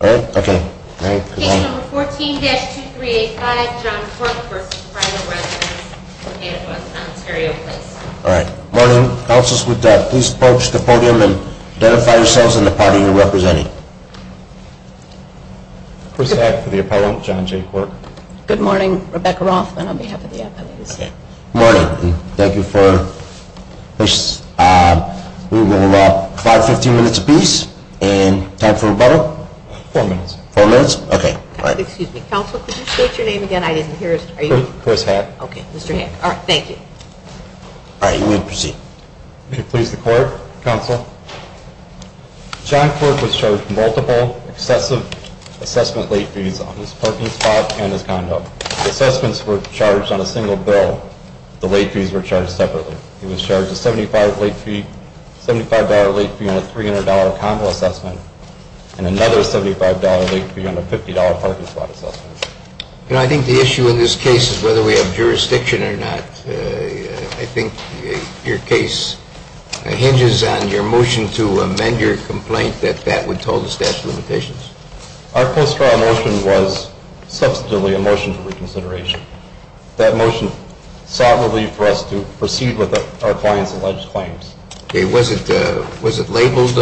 Page 14-2385, John Quirke v. Private Residences at Ontario Place Morning. Councils would please approach the podium and identify yourselves and the party you are representing. First I have for the appellant, John J. Quirke. Good morning, Rebecca Rothman on behalf of the appellate. Good morning and thank you for your patience. We will have about 5-15 minutes apiece and time for rebuttal? Four minutes. Four minutes? Okay. Excuse me. Council, could you state your name again? I didn't hear it. Chris Hack. Okay. Mr. Hack. All right. Thank you. All right. You may proceed. May it please the court. Counsel. John Quirke was charged with multiple excessive assessment late fees on his parking spot and his condo. Assessments were charged on a single bill. The late fees were charged separately. He was charged a $75 late fee on a $300 condo assessment and another $75 late fee on a $50 parking spot assessment. You know, I think the issue in this case is whether we have jurisdiction or not. I think your case hinges on your motion to amend your complaint that that would toll the staff's limitations. Our post-trial motion was substantively a motion for reconsideration. That motion sought relief for us to proceed with our client's alleged claims. Okay. Was it labeled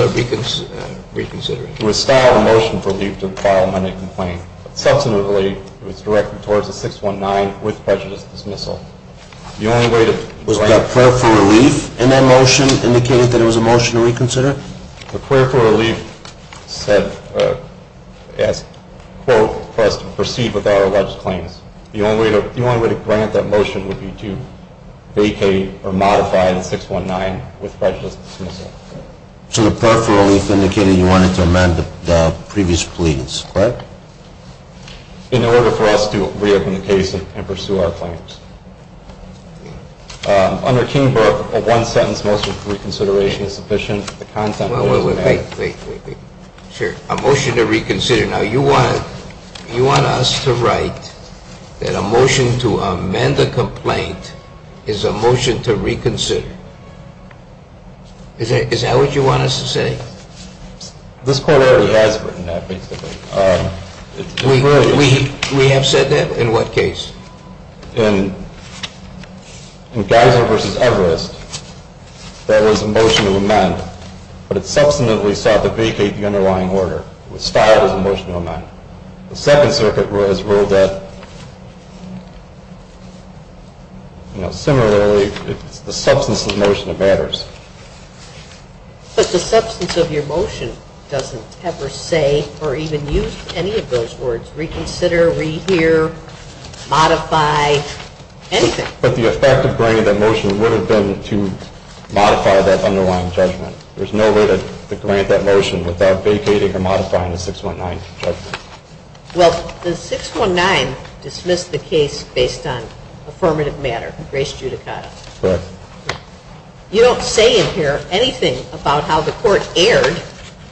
reconsideration? It was styled a motion for relief to file an amended complaint. Substantively, it was directed towards a 619 with prejudice dismissal. The only way to – Was that prayer for relief in that motion indicated that it was a motion to reconsider? The prayer for relief said – asked, quote, for us to proceed with our alleged claims. The only way to grant that motion would be to vacate or modify the 619 with prejudice dismissal. So the prayer for relief indicated you wanted to amend the previous plea, correct? In order for us to reopen the case and pursue our claims. Under Keenberg, a one-sentence motion for reconsideration is sufficient. Wait, wait, wait. Sure. A motion to reconsider. Now, you want us to write that a motion to amend a complaint is a motion to reconsider. Is that what you want us to say? This court already has written that, basically. We have said that? In what case? In Geiser v. Everest, there was a motion to amend, but it subsequently sought to vacate the underlying order. It was filed as a motion to amend. The Second Circuit has ruled that, you know, similarly, it's the substance of the motion that matters. But the substance of your motion doesn't ever say or even use any of those words, reconsider, rehear, modify, anything. But the effect of bringing that motion would have been to modify that underlying judgment. There's no way to grant that motion without vacating or modifying the 619 judgment. Well, the 619 dismissed the case based on affirmative matter, grace judicata. Correct. You don't say in here anything about how the court erred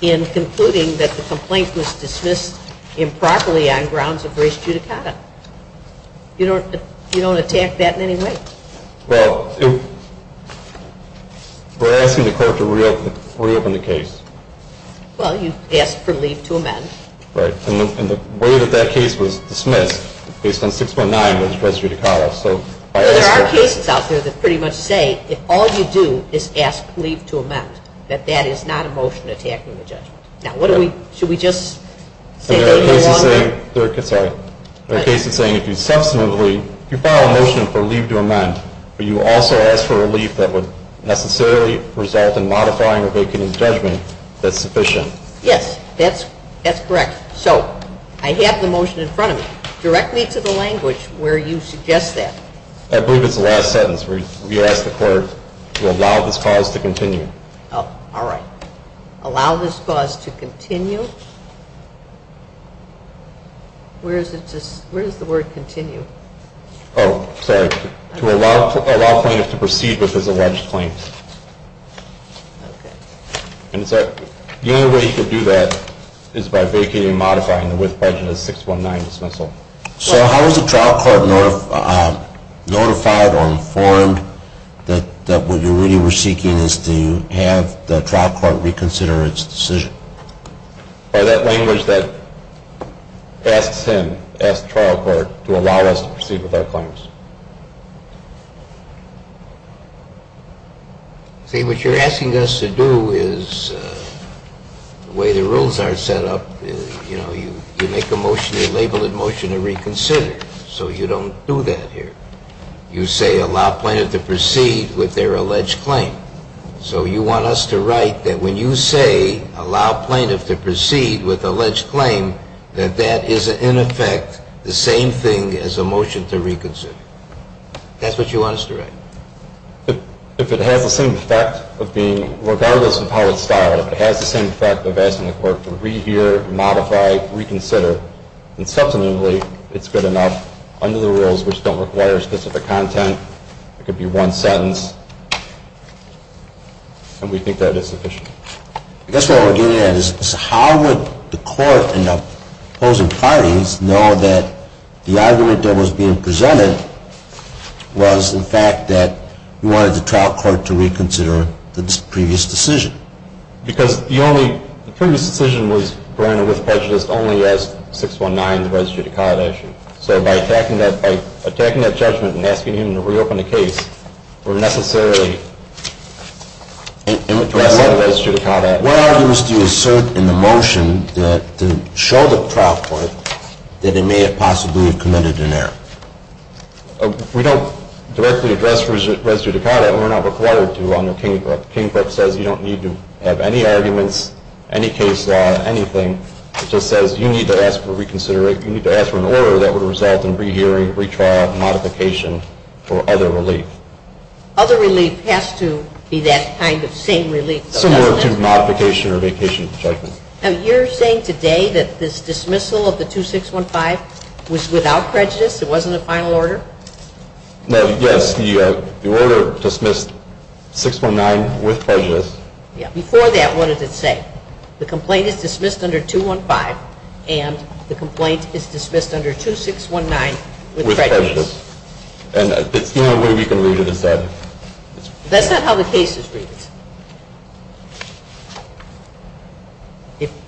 in concluding that the complaint was dismissed improperly on grounds of grace judicata. You don't attack that in any way? Well, we're asking the court to reopen the case. Well, you asked for leave to amend. Right. And the way that that case was dismissed, based on 619, was grace judicata. There are cases out there that pretty much say if all you do is ask leave to amend, that that is not a motion attacking the judgment. Now, should we just say that no longer? There are cases saying if you subsequently, if you file a motion for leave to amend, but you also ask for relief that would necessarily result in modifying or vacating the judgment, that's sufficient. Yes, that's correct. So I have the motion in front of me. Direct me to the language where you suggest that. I believe it's the last sentence where you ask the court to allow this clause to continue. All right. Allow this clause to continue. Where does the word continue? Oh, sorry. To allow plaintiffs to proceed with his alleged claims. Okay. And the only way you could do that is by vacating and modifying the width budget of the 619 dismissal. So how is the trial court notified or informed that what you really were seeking is to have the trial court reconsider its decision? By that language that asks him, asks the trial court, to allow us to proceed with our claims. See, what you're asking us to do is, the way the rules are set up, you know, you say allow plaintiff to proceed with their alleged claim. So you want us to write that when you say allow plaintiff to proceed with alleged claim, that that is, in effect, the same thing as a motion to reconsider. That's what you want us to write. If it has the same effect of being, regardless of how it's styled, if it has the same effect of asking the court to rehear, modify, reconsider, and subsequently it's good enough under the rules which don't require specific content, it could be one sentence, and we think that is sufficient. I guess what we're getting at is how would the court and the opposing parties know that the argument that was being presented was, in fact, that you wanted the trial court to reconsider the previous decision. Because the only previous decision was granted with prejudice only as 619, the registry to conduct. So by attacking that judgment and asking him to reopen the case, we're necessarily addressing the registry to conduct. What arguments do you assert in the motion that show the trial court that it may have possibly committed an error? We don't directly address the registry to conduct. We're not required to under Kingbrook. Kingbrook says you don't need to have any arguments, any case law, anything. It just says you need to ask for reconsideration. You need to ask for an order that would result in rehearing, retrial, modification, or other relief. Other relief has to be that kind of same relief. Similar to modification or vacation judgment. Now, you're saying today that this dismissal of the 2615 was without prejudice? It wasn't a final order? No, yes. The order dismissed 619 with prejudice. Before that, what does it say? The complaint is dismissed under 215, and the complaint is dismissed under 2619 with prejudice. And the only way we can read it is that. That's not how the case is read.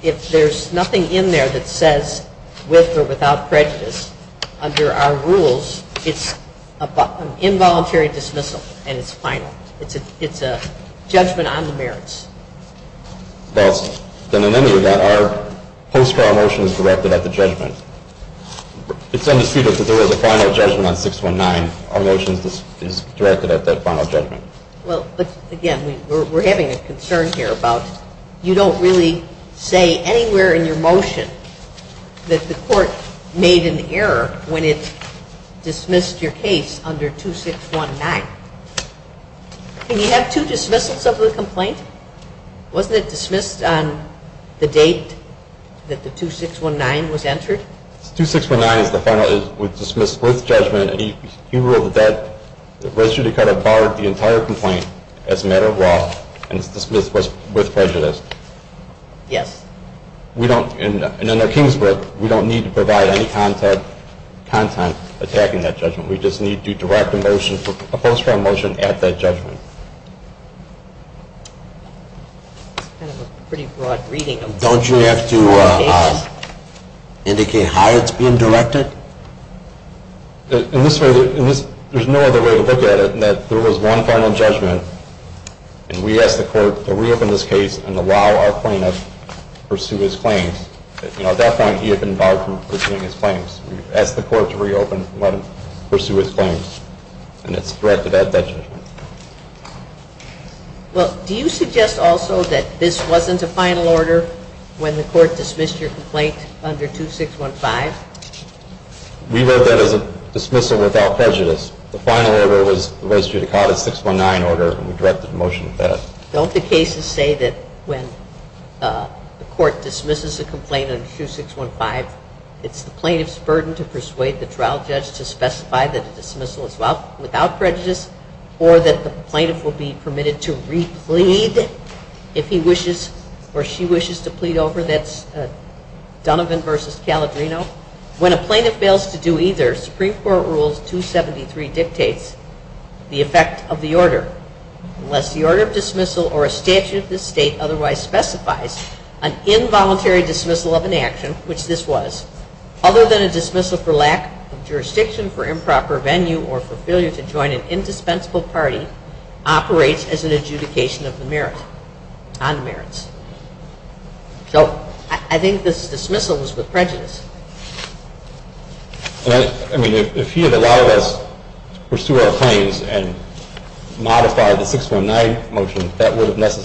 If there's nothing in there that says with or without prejudice, under our rules, it's an involuntary dismissal, and it's final. It's a judgment on the merits. Then in any event, our post for our motion is directed at the judgment. It's undisputed that there was a final judgment on 619. Our motion is directed at that final judgment. Well, but again, we're having a concern here about you don't really say anywhere in your motion that the court made an error when it dismissed your case under 2619. Can you have two dismissals of the complaint? Wasn't it dismissed on the date that the 2619 was entered? The 2619 is the final. It was dismissed with judgment, and he ruled that that ratio to cut apart the entire complaint as a matter of law, and it's dismissed with prejudice. Yes. And under Kingsbrook, we don't need to provide any content attacking that judgment. We just need to direct a motion, a post for our motion at that judgment. It's kind of a pretty broad reading. Don't you have to indicate how it's being directed? In this way, there's no other way to look at it than that there was one final judgment, and we asked the court to reopen this case and allow our plaintiff to pursue his claims. At that point, he had been barred from pursuing his claims. We asked the court to reopen and let him pursue his claims, and it's directed at that judgment. Well, do you suggest also that this wasn't a final order when the court dismissed your complaint under 2615? We wrote that as a dismissal without prejudice. The final order was the ratio to cut a 619 order, and we directed a motion to that. Don't the cases say that when the court dismisses a complaint under 2615, it's the plaintiff's burden to persuade the trial judge to specify that a dismissal is without prejudice or that the plaintiff will be permitted to re-plead if he wishes or she wishes to plead over? That's Donovan v. Caledrino. When a plaintiff fails to do either, Supreme Court Rules 273 dictates the effect of the order. Unless the order of dismissal or a statute of this state otherwise specifies an involuntary dismissal of an action, which this was, other than a dismissal for lack of jurisdiction for improper venue or for failure to join an indispensable party, operates as an adjudication of the merit, non-merits. So I think this dismissal was with prejudice. I mean, if he had allowed us to pursue our claims and modify the 619 motion,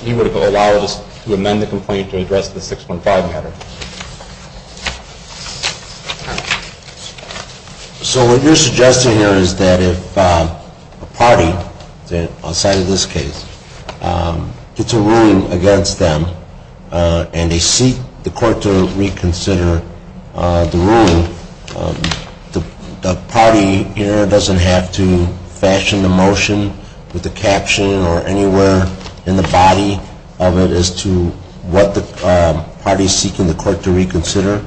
he would have allowed us to amend the complaint to address the 615 matter. So what you're suggesting here is that if a party outside of this case gets a ruling against them and they seek the court to reconsider the ruling, the party here doesn't have to fashion the motion with the caption or anywhere in the body of it as to what the party is seeking the court to reconsider?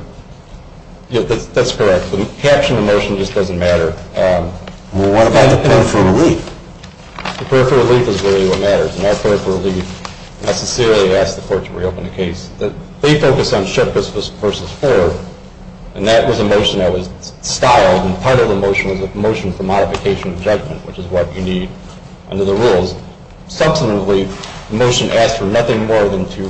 That's correct. The caption of the motion just doesn't matter. Well, what about the prayer for relief? The prayer for relief is really what matters. And our prayer for relief necessarily asks the court to reopen the case. They focused on Shookus v. Ford, and that was a motion that was styled, and part of the motion was a motion for modification of judgment, which is what you need under the rules. Subsequently, the motion asked for nothing more than to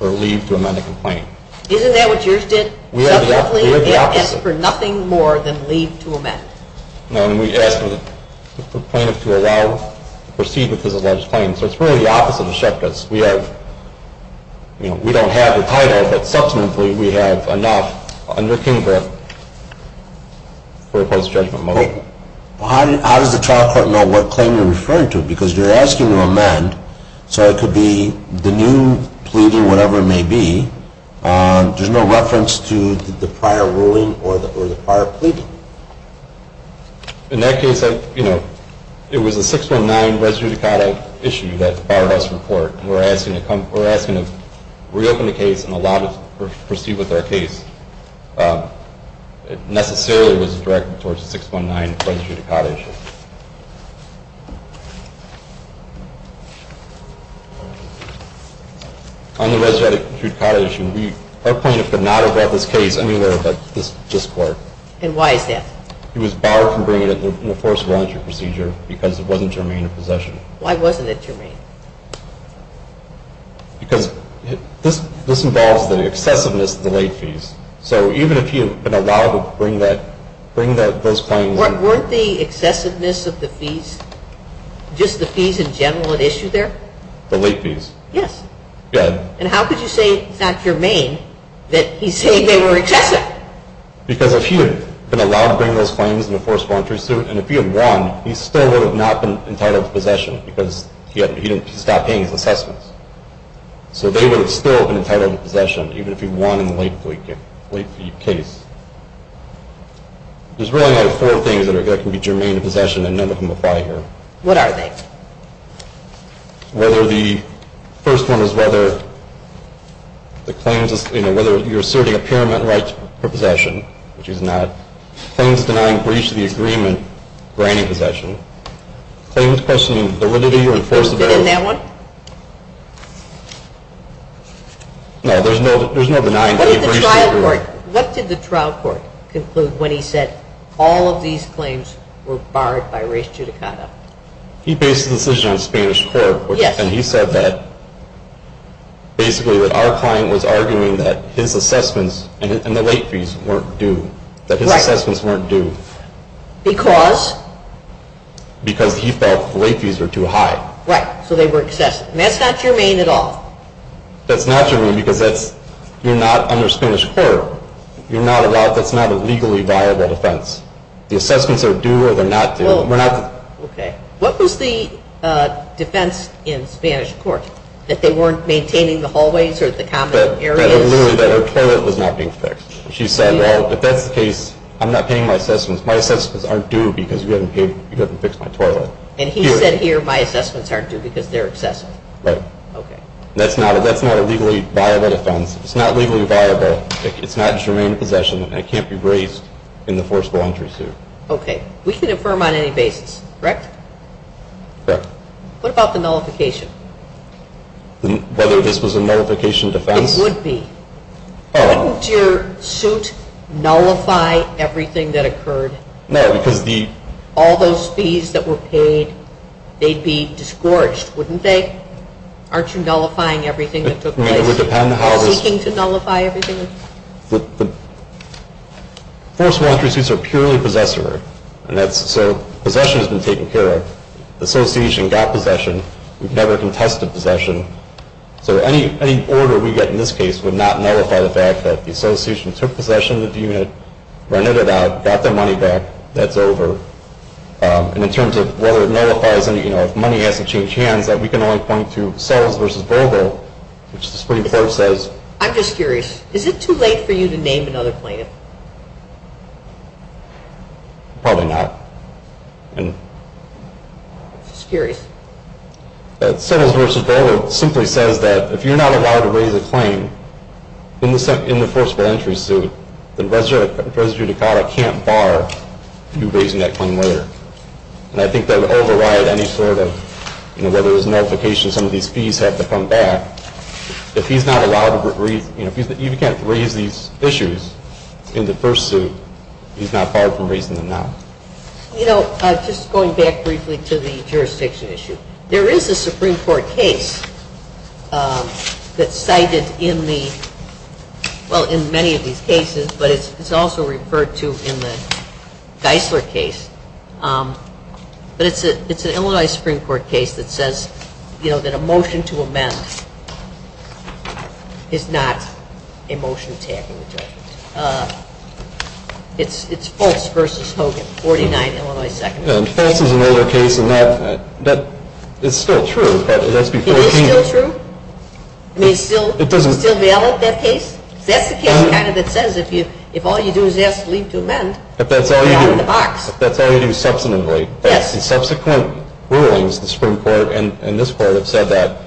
leave to amend the complaint. Isn't that what yours did? Subsequently, it asked for nothing more than leave to amend. No, we asked the plaintiff to allow, proceed with his alleged claim. So it's really the opposite of Shookus. We don't have the title, but subsequently we have enough under Kingbrook for a post-judgment motion. How does the trial court know what claim you're referring to? Because you're asking to amend, so it could be the new pleading, whatever it may be. There's no reference to the prior ruling or the prior pleading? In that case, it was a 619 res judicata issue that borrowed us from court. We're asking to reopen the case and allow them to proceed with their case. It necessarily was directed towards a 619 res judicata issue. On the res judicata issue, our plaintiff could not have brought this case anywhere but this court. And why is that? He was barred from bringing it in the forced voluntary procedure because it wasn't germane to possession. Why wasn't it germane? Because this involves the excessiveness of the late fees. So even if he had been allowed to bring those claims. Weren't the excessiveness of the fees, just the fees in general, at issue there? The late fees. Yes. And how could you say it's not germane that he's saying they were excessive? Because if he had been allowed to bring those claims in the forced voluntary suit and if he had won, he still would have not been entitled to possession because he stopped paying his assessments. So they would have still been entitled to possession even if he won in the late fee case. There's really only four things that can be germane to possession and none of them apply here. What are they? The first one is whether you're asserting a pyramid right for possession, which he's not. Claims denying breach of the agreement for any possession. Claims questioning the validity or enforceability. He posted in that one? No, there's no denying breach of the agreement. What did the trial court conclude when he said all of these claims were barred by breach of the agreement? He based the decision on Spanish court and he said that basically that our client was arguing that his assessments and the late fees weren't due, that his assessments weren't due. Because? Because he felt the late fees were too high. Right, so they were excessive. And that's not germane at all? That's not germane because you're not under Spanish court. That's not a legally viable defense. The assessments are due or they're not due. What was the defense in Spanish court? That they weren't maintaining the hallways or the common areas? That her toilet was not being fixed. She said, well, if that's the case, I'm not paying my assessments. My assessments aren't due because you haven't fixed my toilet. And he said here my assessments aren't due because they're excessive. Right. Okay. That's not a legally viable defense. It's not legally viable. It's not germane possession and it can't be raised in the forcible entry suit. Okay. We can affirm on any basis, correct? Correct. What about the nullification? Whether this was a nullification defense? It would be. Wouldn't your suit nullify everything that occurred? No, because the? All those fees that were paid, they'd be disgorged, wouldn't they? Aren't you nullifying everything that took place? It would depend how. Seeking to nullify everything? The forcible entry suits are purely possessory. So possession has been taken care of. The association got possession. We've never contested possession. So any order we get in this case would not nullify the fact that the association took possession of the unit, rented it out, got their money back. That's over. And in terms of whether it nullifies any, you know, if money has to change hands, we can only point to Settles v. Volvo, which the Supreme Court says. I'm just curious. Is it too late for you to name another plaintiff? Probably not. I'm just curious. Settles v. Volvo simply says that if you're not allowed to raise a claim in the forcible entry suit, then President Ducato can't bar you raising that claim later. And I think that would override any sort of, you know, whether it was nullification, some of these fees have to come back. If he's not allowed to raise, you know, if he can't raise these issues in the first suit, he's not barred from raising them now. You know, just going back briefly to the jurisdiction issue, there is a Supreme Court case that's cited in the, well, in many of these cases, but it's also referred to in the Geisler case. But it's an Illinois Supreme Court case that says, you know, that a motion to amend is not a motion attacking the judge. It's Fultz v. Hogan, 49 Illinois Second. And Fultz is an older case, and that is still true, but it has to be 14. It is still true? I mean, is it still valid, that case? That's the case kind of that says if all you do is ask to leave to amend, you're out of the box. If that's all you do, if that's all you do subsequently, the subsequent rulings, the Supreme Court and this Court have said that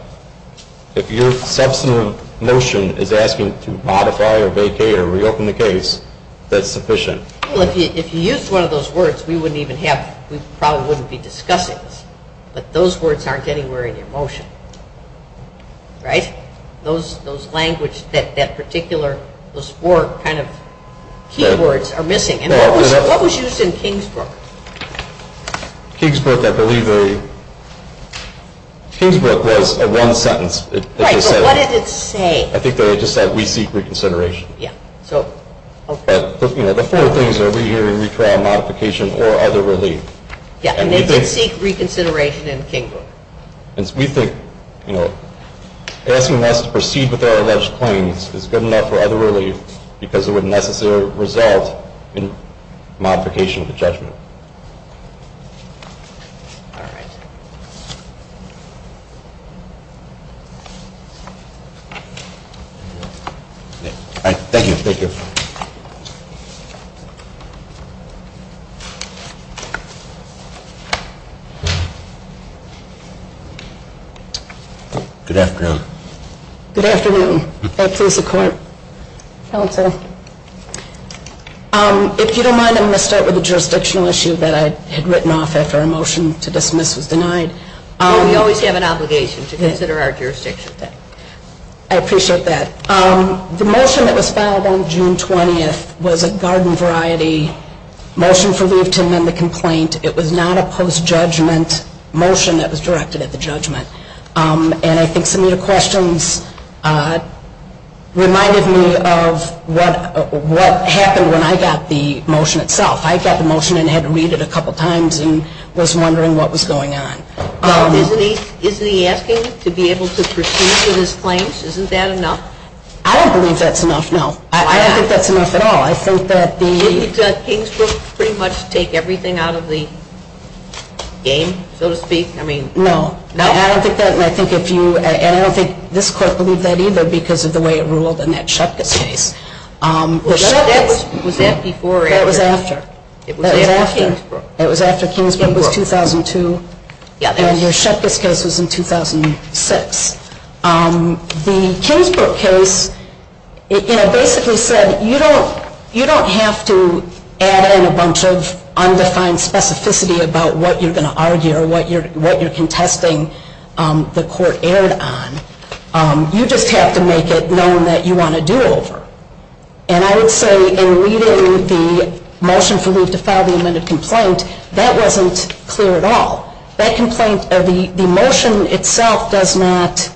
if your subsequent motion is asking to modify or vacate or reopen the case, that's sufficient. Well, if you used one of those words, we wouldn't even have, we probably wouldn't be discussing this. But those words aren't anywhere in your motion, right? Those language, that particular, those four kind of key words are missing. And what was used in Kingsbrook? Kingsbrook, I believe, Kingsbrook was a one sentence. Right, but what did it say? I think that it just said we seek reconsideration. Yeah, so, okay. But, you know, the four things are rehearing, retrial, modification, or other relief. Yeah, and they did seek reconsideration in Kingsbrook. And we think, you know, asking us to proceed with our alleged claims is good enough for other relief because it would necessarily result in modification of the judgment. All right. All right. Thank you. Thank you. Good afternoon. Good afternoon. May it please the Court? I'll answer. If you don't mind, I'm going to start with a jurisdictional issue that I had written off after a motion to dismiss was denied. We always have an obligation to consider our jurisdiction. I appreciate that. The motion that was filed on June 20th was a garden variety motion for leave to amend the complaint. It was not a post-judgment motion that was directed at the judgment. And I think some of your questions reminded me of what happened when I got the motion itself. I got the motion and had to read it a couple times and was wondering what was going on. Now, isn't he asking to be able to proceed with his claims? Isn't that enough? I don't believe that's enough, no. Why not? I don't think that's enough at all. Shouldn't Kingsbrook pretty much take everything out of the game, so to speak? No. No? And I don't think this Court believed that either because of the way it ruled in that Shepkis case. Was that before or after? That was after. It was after Kingsbrook. It was after Kingsbrook. It was 2002. And your Shepkis case was in 2006. The Kingsbrook case basically said you don't have to add in a bunch of undefined specificity about what you're going to argue or what you're contesting the Court erred on. You just have to make it known that you want a do-over. And I would say in reading the motion for leave to file the amended complaint, that wasn't clear at all. That complaint, the motion itself does not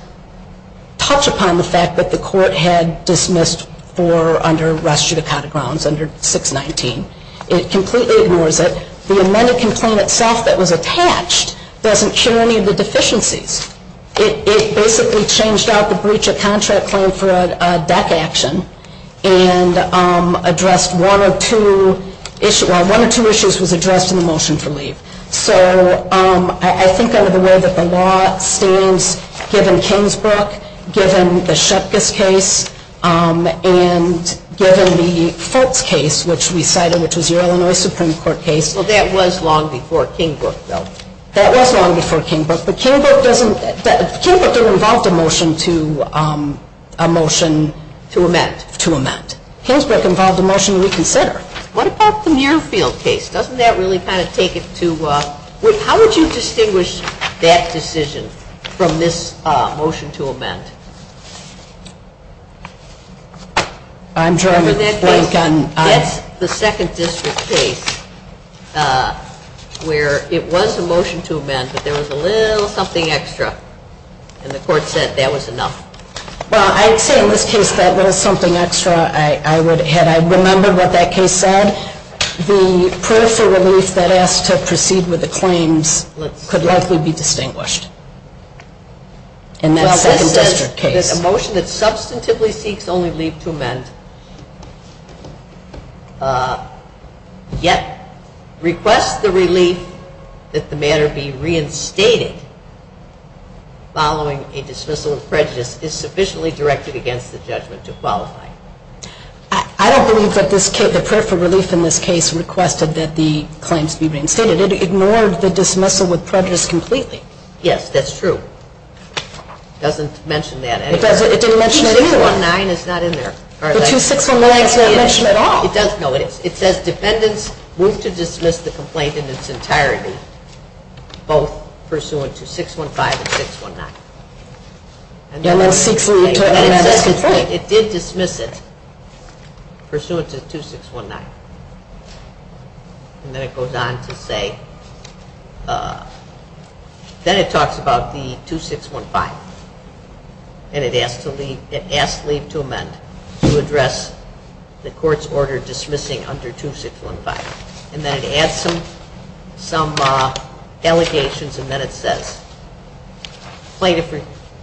touch upon the fact that the Court had dismissed for under res judicata grounds under 619. It completely ignores it. The amended complaint itself that was attached doesn't cure any of the deficiencies. It basically changed out the breach of contract claim for a deck action and addressed one or two issues. Well, one or two issues was addressed in the motion for leave. So I think under the way that the law stands, given Kingsbrook, given the Shepkis case, and given the Foltz case, which we cited, which was your Illinois Supreme Court case. Well, that was long before Kingsbrook, though. That was long before Kingsbrook, but Kingsbrook didn't involve the motion to amend. Kingsbrook involved a motion to reconsider. What about the Muirfield case? Doesn't that really kind of take it to – how would you distinguish that decision from this motion to amend? I'm trying to think. That's the 2nd District case where it was a motion to amend, but there was a little something extra, and the Court said that was enough. Well, I'd say in this case that little something extra, I would – had I remembered what that case said, the proof for relief that asked to proceed with the claims could likely be distinguished in that 2nd District case. A motion that substantively seeks only leave to amend, yet requests the relief that the matter be reinstated following a dismissal of prejudice is sufficiently directed against the judgment to qualify. I don't believe that the proof for relief in this case requested that the claims be reinstated. It ignored the dismissal with prejudice completely. Yes, that's true. It doesn't mention that anywhere. It didn't mention it either. 2619 is not in there. The 2619 is not mentioned at all. It doesn't, no. It says defendants moved to dismiss the complaint in its entirety, both pursuant to 615 and 619. And then seeks leave to amend this complaint. But it did dismiss it pursuant to 2619. And then it goes on to say – then it talks about the 2615. And it asks leave to amend to address the Court's order dismissing under 2615. And then it adds some allegations and then it says, Plaintiff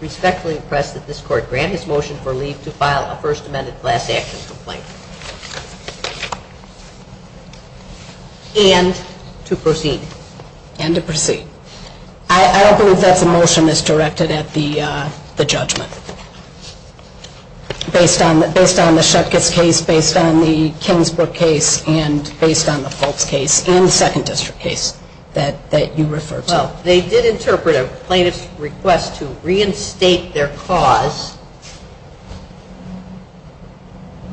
respectfully requests that this Court grant his motion for leave to file a First Amendment last action complaint. And to proceed. And to proceed. I don't believe that the motion is directed at the judgment. Based on the Shutkis case, based on the Kingsbrook case, and based on the Fulkes case, and the Second District case that you refer to. Well, they did interpret a plaintiff's request to reinstate their cause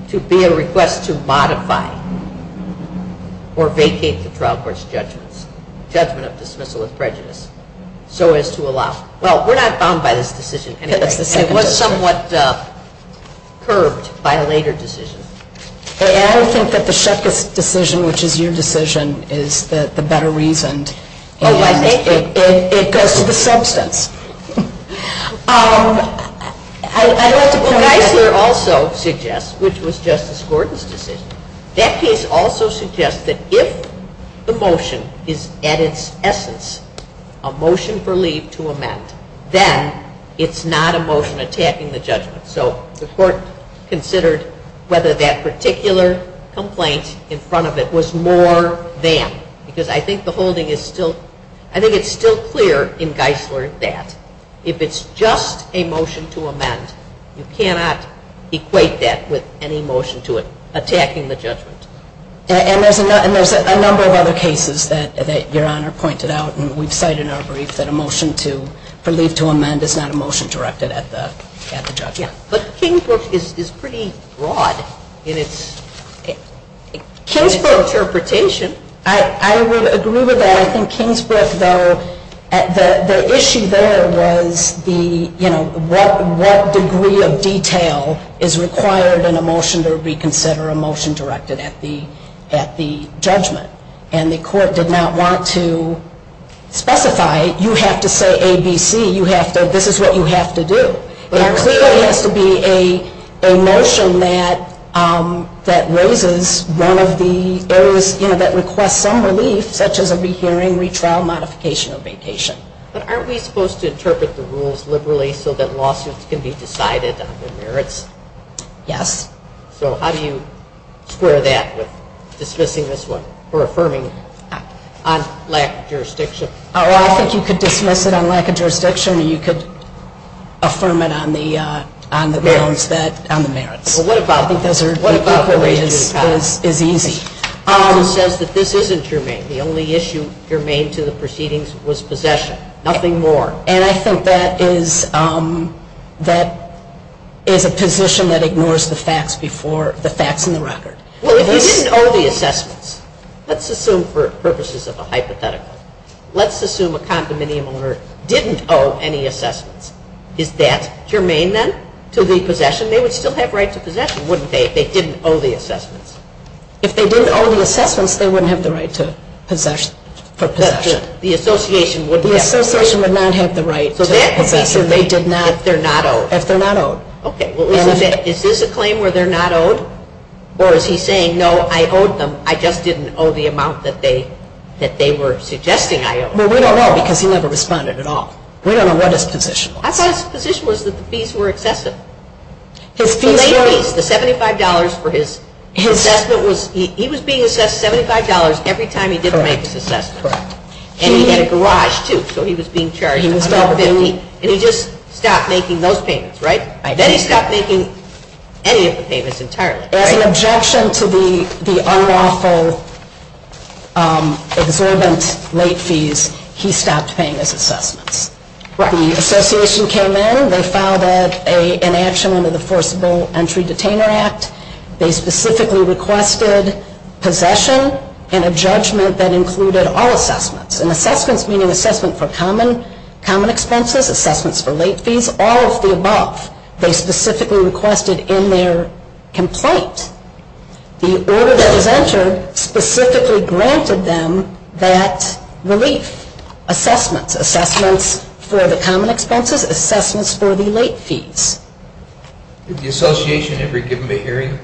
to be a request to modify or vacate the trial court's judgment. Judgment of dismissal with prejudice. So as to allow. Well, we're not bound by this decision anyway. It was somewhat curbed by a later decision. I don't think that the Shutkis decision, which is your decision, is the better reason. Oh, I think it goes to the substance. Um, I don't have to. Well, Geisler also suggests, which was Justice Gordon's decision, that case also suggests that if the motion is at its essence a motion for leave to amend, then it's not a motion attacking the judgment. So the court considered whether that particular complaint in front of it was more than. Because I think the holding is still, I think it's still clear in Geisler that if it's just a motion to amend, you cannot equate that with any motion to it attacking the judgment. And there's a number of other cases that your Honor pointed out. We've cited in our brief that a motion for leave to amend is not a motion directed at the judgment. But Kingsbrook is pretty broad in its interpretation. I would agree with that. I think Kingsbrook, though, the issue there was the, you know, what degree of detail is required in a motion to reconsider a motion directed at the judgment. And the court did not want to specify, you have to say A, B, C. You have to, this is what you have to do. There clearly has to be a motion that, um, that raises one of the areas, you know, that requests some relief, such as a rehearing, retrial, modification of vacation. But aren't we supposed to interpret the rules liberally so that lawsuits can be decided on their merits? Yes. So how do you square that with dismissing this one or affirming it on lack of jurisdiction? Well, I think you could dismiss it on lack of jurisdiction, or you could affirm it on the merits. Well, what about the range of the cost? I think that is easy. It says that this isn't germane. The only issue germane to the proceedings was possession. Nothing more. And I think that is, um, that is a position that ignores the facts before, the facts in the record. Well, if you didn't owe the assessments, let's assume for purposes of a hypothetical, let's assume a condominium owner didn't owe any assessments. Is that germane then to the possession? They would still have right to possession, wouldn't they, if they didn't owe the assessments? If they didn't owe the assessments, they wouldn't have the right to possession, for possession. The association wouldn't have possession. They wouldn't have the right to possession if they're not owed. If they're not owed. Okay. Well, is this a claim where they're not owed? Or is he saying, no, I owed them, I just didn't owe the amount that they were suggesting I owed? Well, we don't know because he never responded at all. We don't know what his position was. I thought his position was that the fees were excessive. The late fees, the $75 for his assessment, he was being assessed $75 every time he did the maintenance assessment. Correct. And he had a garage, too, so he was being charged $150. And he just stopped making those payments, right? Then he stopped making any of the payments entirely. As an objection to the unlawful, exorbitant late fees, he stopped paying his assessments. Right. The association came in, they filed an inaction under the Forcible Entry Detainer Act. They specifically requested possession and a judgment that included all assessments. And assessments meaning assessment for common expenses, assessments for late fees, all of the above. They specifically requested in their complaint. The order that was entered specifically granted them that relief. Assessments. Assessments for the common expenses, assessments for the late fees. Did the association ever give him a hearing?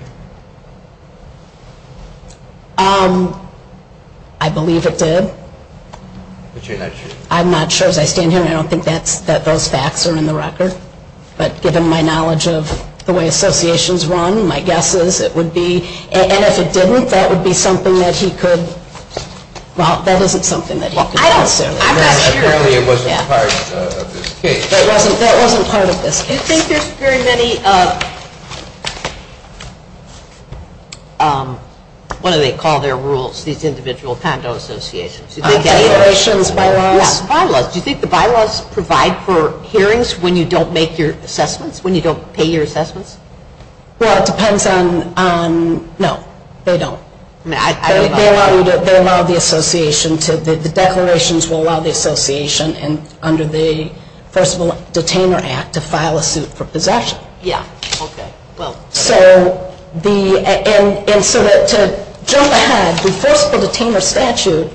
I believe it did. But you're not sure? I'm not sure. As I stand here, I don't think that those facts are in the record. But given my knowledge of the way associations run, my guess is it would be. And if it didn't, that would be something that he could. Well, that isn't something that he could necessarily. I'm not sure. Apparently it wasn't part of this case. That wasn't part of this case. Do you think there's very many, what do they call their rules, these individual condo associations? Declarations, bylaws? Yes, bylaws. Do you think the bylaws provide for hearings when you don't make your assessments, when you don't pay your assessments? Well, it depends on, no, they don't. They allow the association to, the declarations will allow the association under the Forcible Detainer Act to file a suit for possession. Yeah. Okay. And so to jump ahead, the Forcible Detainer Statute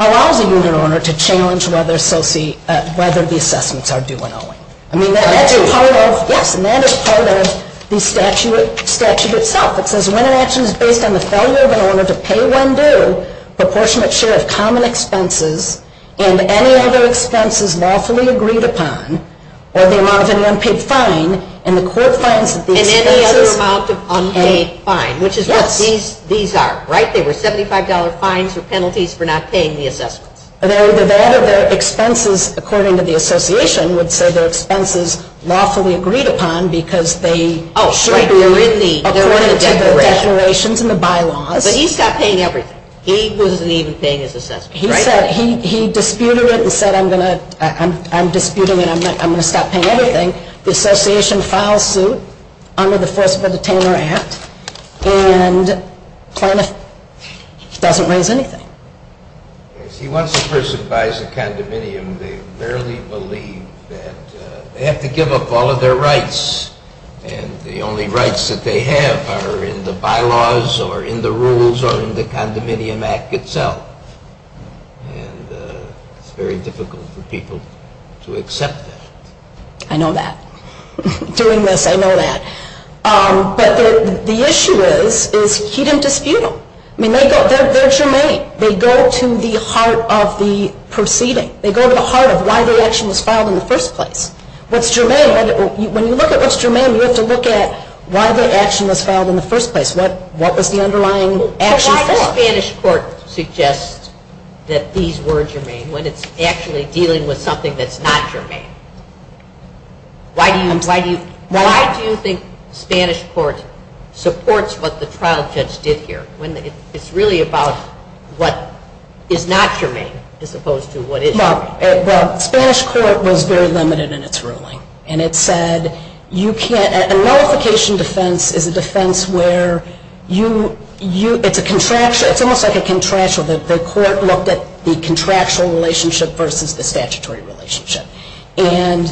allows a unit owner to challenge whether the assessments are due when owing. I mean, that's part of, yes, and that is part of the statute itself. It says when an action is based on the failure of an owner to pay when due, proportionate share of common expenses, and any other expenses lawfully agreed upon, or the amount of an unpaid fine, and the court finds that these expenses And any other amount of unpaid fine. Yes. Which is what these are, right? They were $75 fines or penalties for not paying the assessments. The VAD of their expenses, according to the association, would say their expenses lawfully agreed upon because they Oh, right, they're in the According to the declarations and the bylaws. But he stopped paying everything. He wasn't even paying his assessments. He said, he disputed it and said, I'm disputing it. I'm going to stop paying everything. The association files suit under the Forcible Detainer Act and doesn't raise anything. See, once a person buys a condominium, they rarely believe that they have to give up all of their rights. And the only rights that they have are in the bylaws or in the rules or in the condominium act itself. And it's very difficult for people to accept that. I know that. Doing this, I know that. But the issue is, is he didn't dispute them. I mean, they're germane. They go to the heart of the proceeding. They go to the heart of why the action was filed in the first place. What's germane? When you look at what's germane, you have to look at why the action was filed in the first place. What was the underlying action for? But why does Spanish court suggest that these were germane when it's actually dealing with something that's not germane? Why do you think Spanish court supports what the trial judge did here when it's really about what is not germane as opposed to what is germane? Well, Spanish court was very limited in its ruling. And it said, a nullification defense is a defense where it's almost like a contractual. The court looked at the contractual relationship versus the statutory relationship. And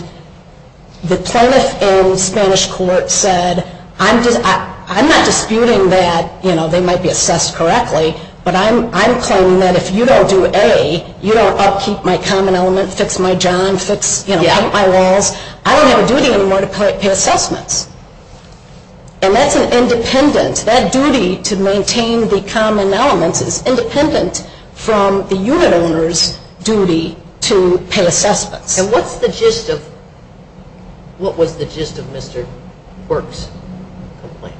the plaintiff in Spanish court said, I'm not disputing that they might be assessed correctly, but I'm claiming that if you don't do A, you don't upkeep my common element, fix my john, fix, you know, paint my walls, I don't have a duty anymore to pay assessments. And that's an independent, that duty to maintain the common elements is independent from the unit owner's duty to pay assessments. And what's the gist of, what was the gist of Mr. Quirk's complaint?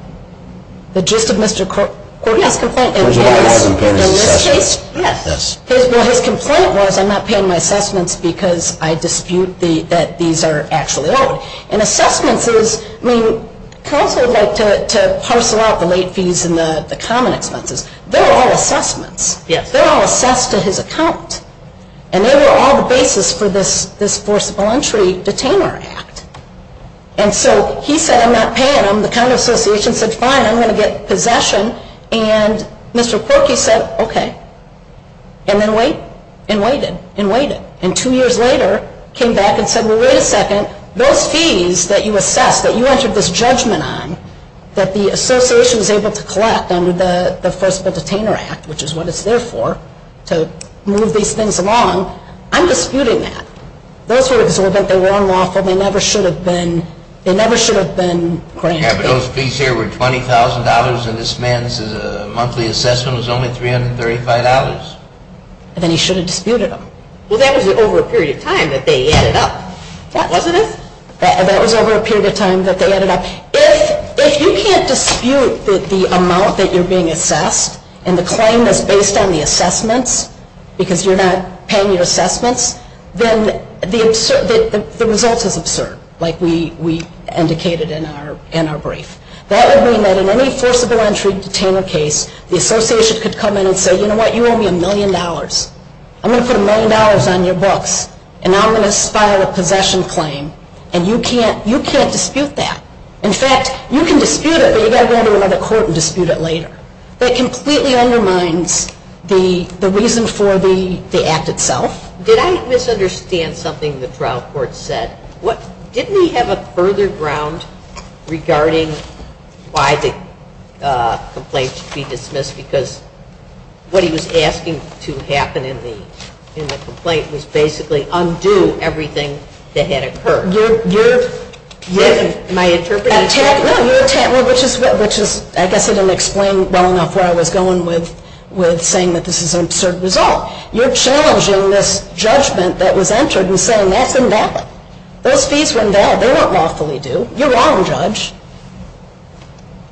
The gist of Mr. Quirk's complaint? In this case? Yes. Well, his complaint was, I'm not paying my assessments because I dispute that these are actually owed. And assessments is, I mean, counsel would like to parcel out the late fees and the common expenses. They're all assessments. They're all assessed to his account. And they were all the basis for this forcible entry detainer act. And so he said, I'm not paying them. And the account association said, fine, I'm going to get possession. And Mr. Quirk, he said, okay. And then wait and waited and waited. And two years later, came back and said, well, wait a second, those fees that you assessed, that you entered this judgment on, that the association was able to collect under the forcible detainer act, which is what it's there for, to move these things along, I'm disputing that. Those were exorbitant. They were unlawful. They never should have been granted. Yeah, but those fees here were $20,000 and this man's monthly assessment was only $335. And then he should have disputed them. Well, that was over a period of time that they added up, wasn't it? That was over a period of time that they added up. If you can't dispute the amount that you're being assessed and the claim is based on the assessments because you're not paying your assessments, then the result is absurd, like we indicated in our brief. That would mean that in any forcible entry detainer case, the association could come in and say, you know what? You owe me a million dollars. I'm going to put a million dollars on your books, and now I'm going to file a possession claim, and you can't dispute that. In fact, you can dispute it, but you've got to go to another court and dispute it later. That completely undermines the reason for the act itself. Did I misunderstand something the trial court said? Didn't he have a further ground regarding why the complaint should be dismissed? Because what he was asking to happen in the complaint was basically undo everything that had occurred. You're attacking me, which I guess I didn't explain well enough where I was going with saying that this is an absurd result. You're challenging this judgment that was entered and saying that's invalid. Those fees were invalid. They weren't lawfully due. You're wrong, Judge.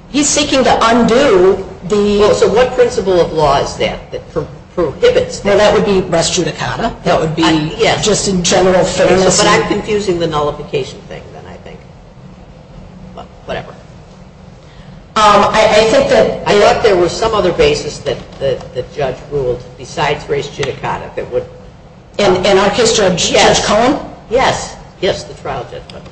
He's seeking to undo the... So what principle of law is that that prohibits that? Well, that would be res judicata. That would be just in general fairness. But I'm confusing the nullification thing, then, I think. Whatever. I thought there was some other basis that the judge ruled besides res judicata that would... In our case, Judge Cohen? Yes. Yes, the trial judgment.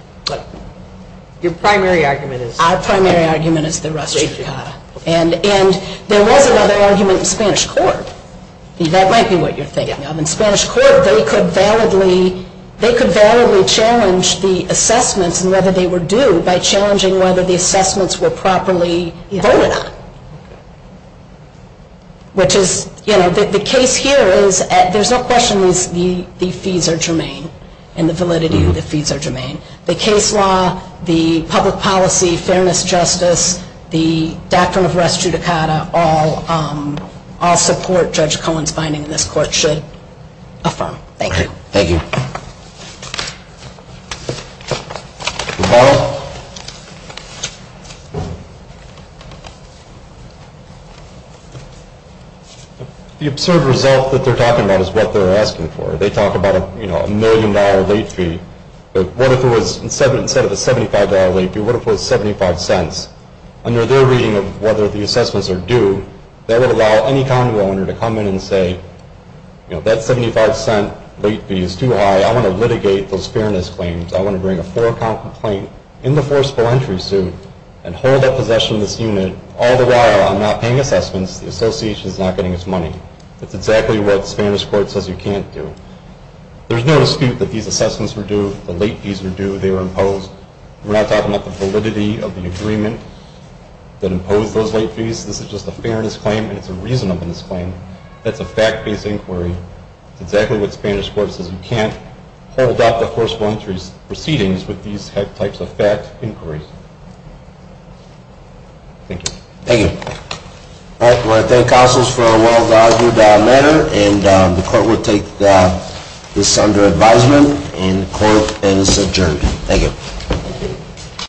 Your primary argument is... Our primary argument is the res judicata. And there was another argument in Spanish court. That might be what you're thinking of. In Spanish court, they could validly challenge the assessments and whether they were due by challenging whether the assessments were properly voted on. Which is, you know, the case here is there's no question the fees are germane. And the validity of the fees are germane. The case law, the public policy, fairness, justice, the doctrine of res judicata, all support Judge Cohen's finding in this court should affirm. Thank you. Thank you. Mr. Powell? The absurd result that they're talking about is what they're asking for. They talk about a million-dollar late fee. But what if it was, instead of a $75 late fee, what if it was 75 cents? Under their reading of whether the assessments are due, that would allow any condo owner to come in and say, you know, that 75-cent late fee is too high. I want to litigate those fairness claims. I want to bring a four-count complaint in the forcible entry suit and hold that possession of this unit all the while I'm not paying assessments. The association is not getting its money. That's exactly what Spanish court says you can't do. There's no dispute that these assessments were due, the late fees were due, they were imposed. We're not talking about the validity of the agreement that imposed those late fees. This is just a fairness claim, and it's a reasonableness claim. That's a fact-based inquiry. That's exactly what Spanish court says you can't hold up the forcible entry proceedings with these types of fact inquiries. Thank you. Thank you. I want to thank counsels for a well-argued matter, and the court will take this under advisement, and the court is adjourned. Thank you.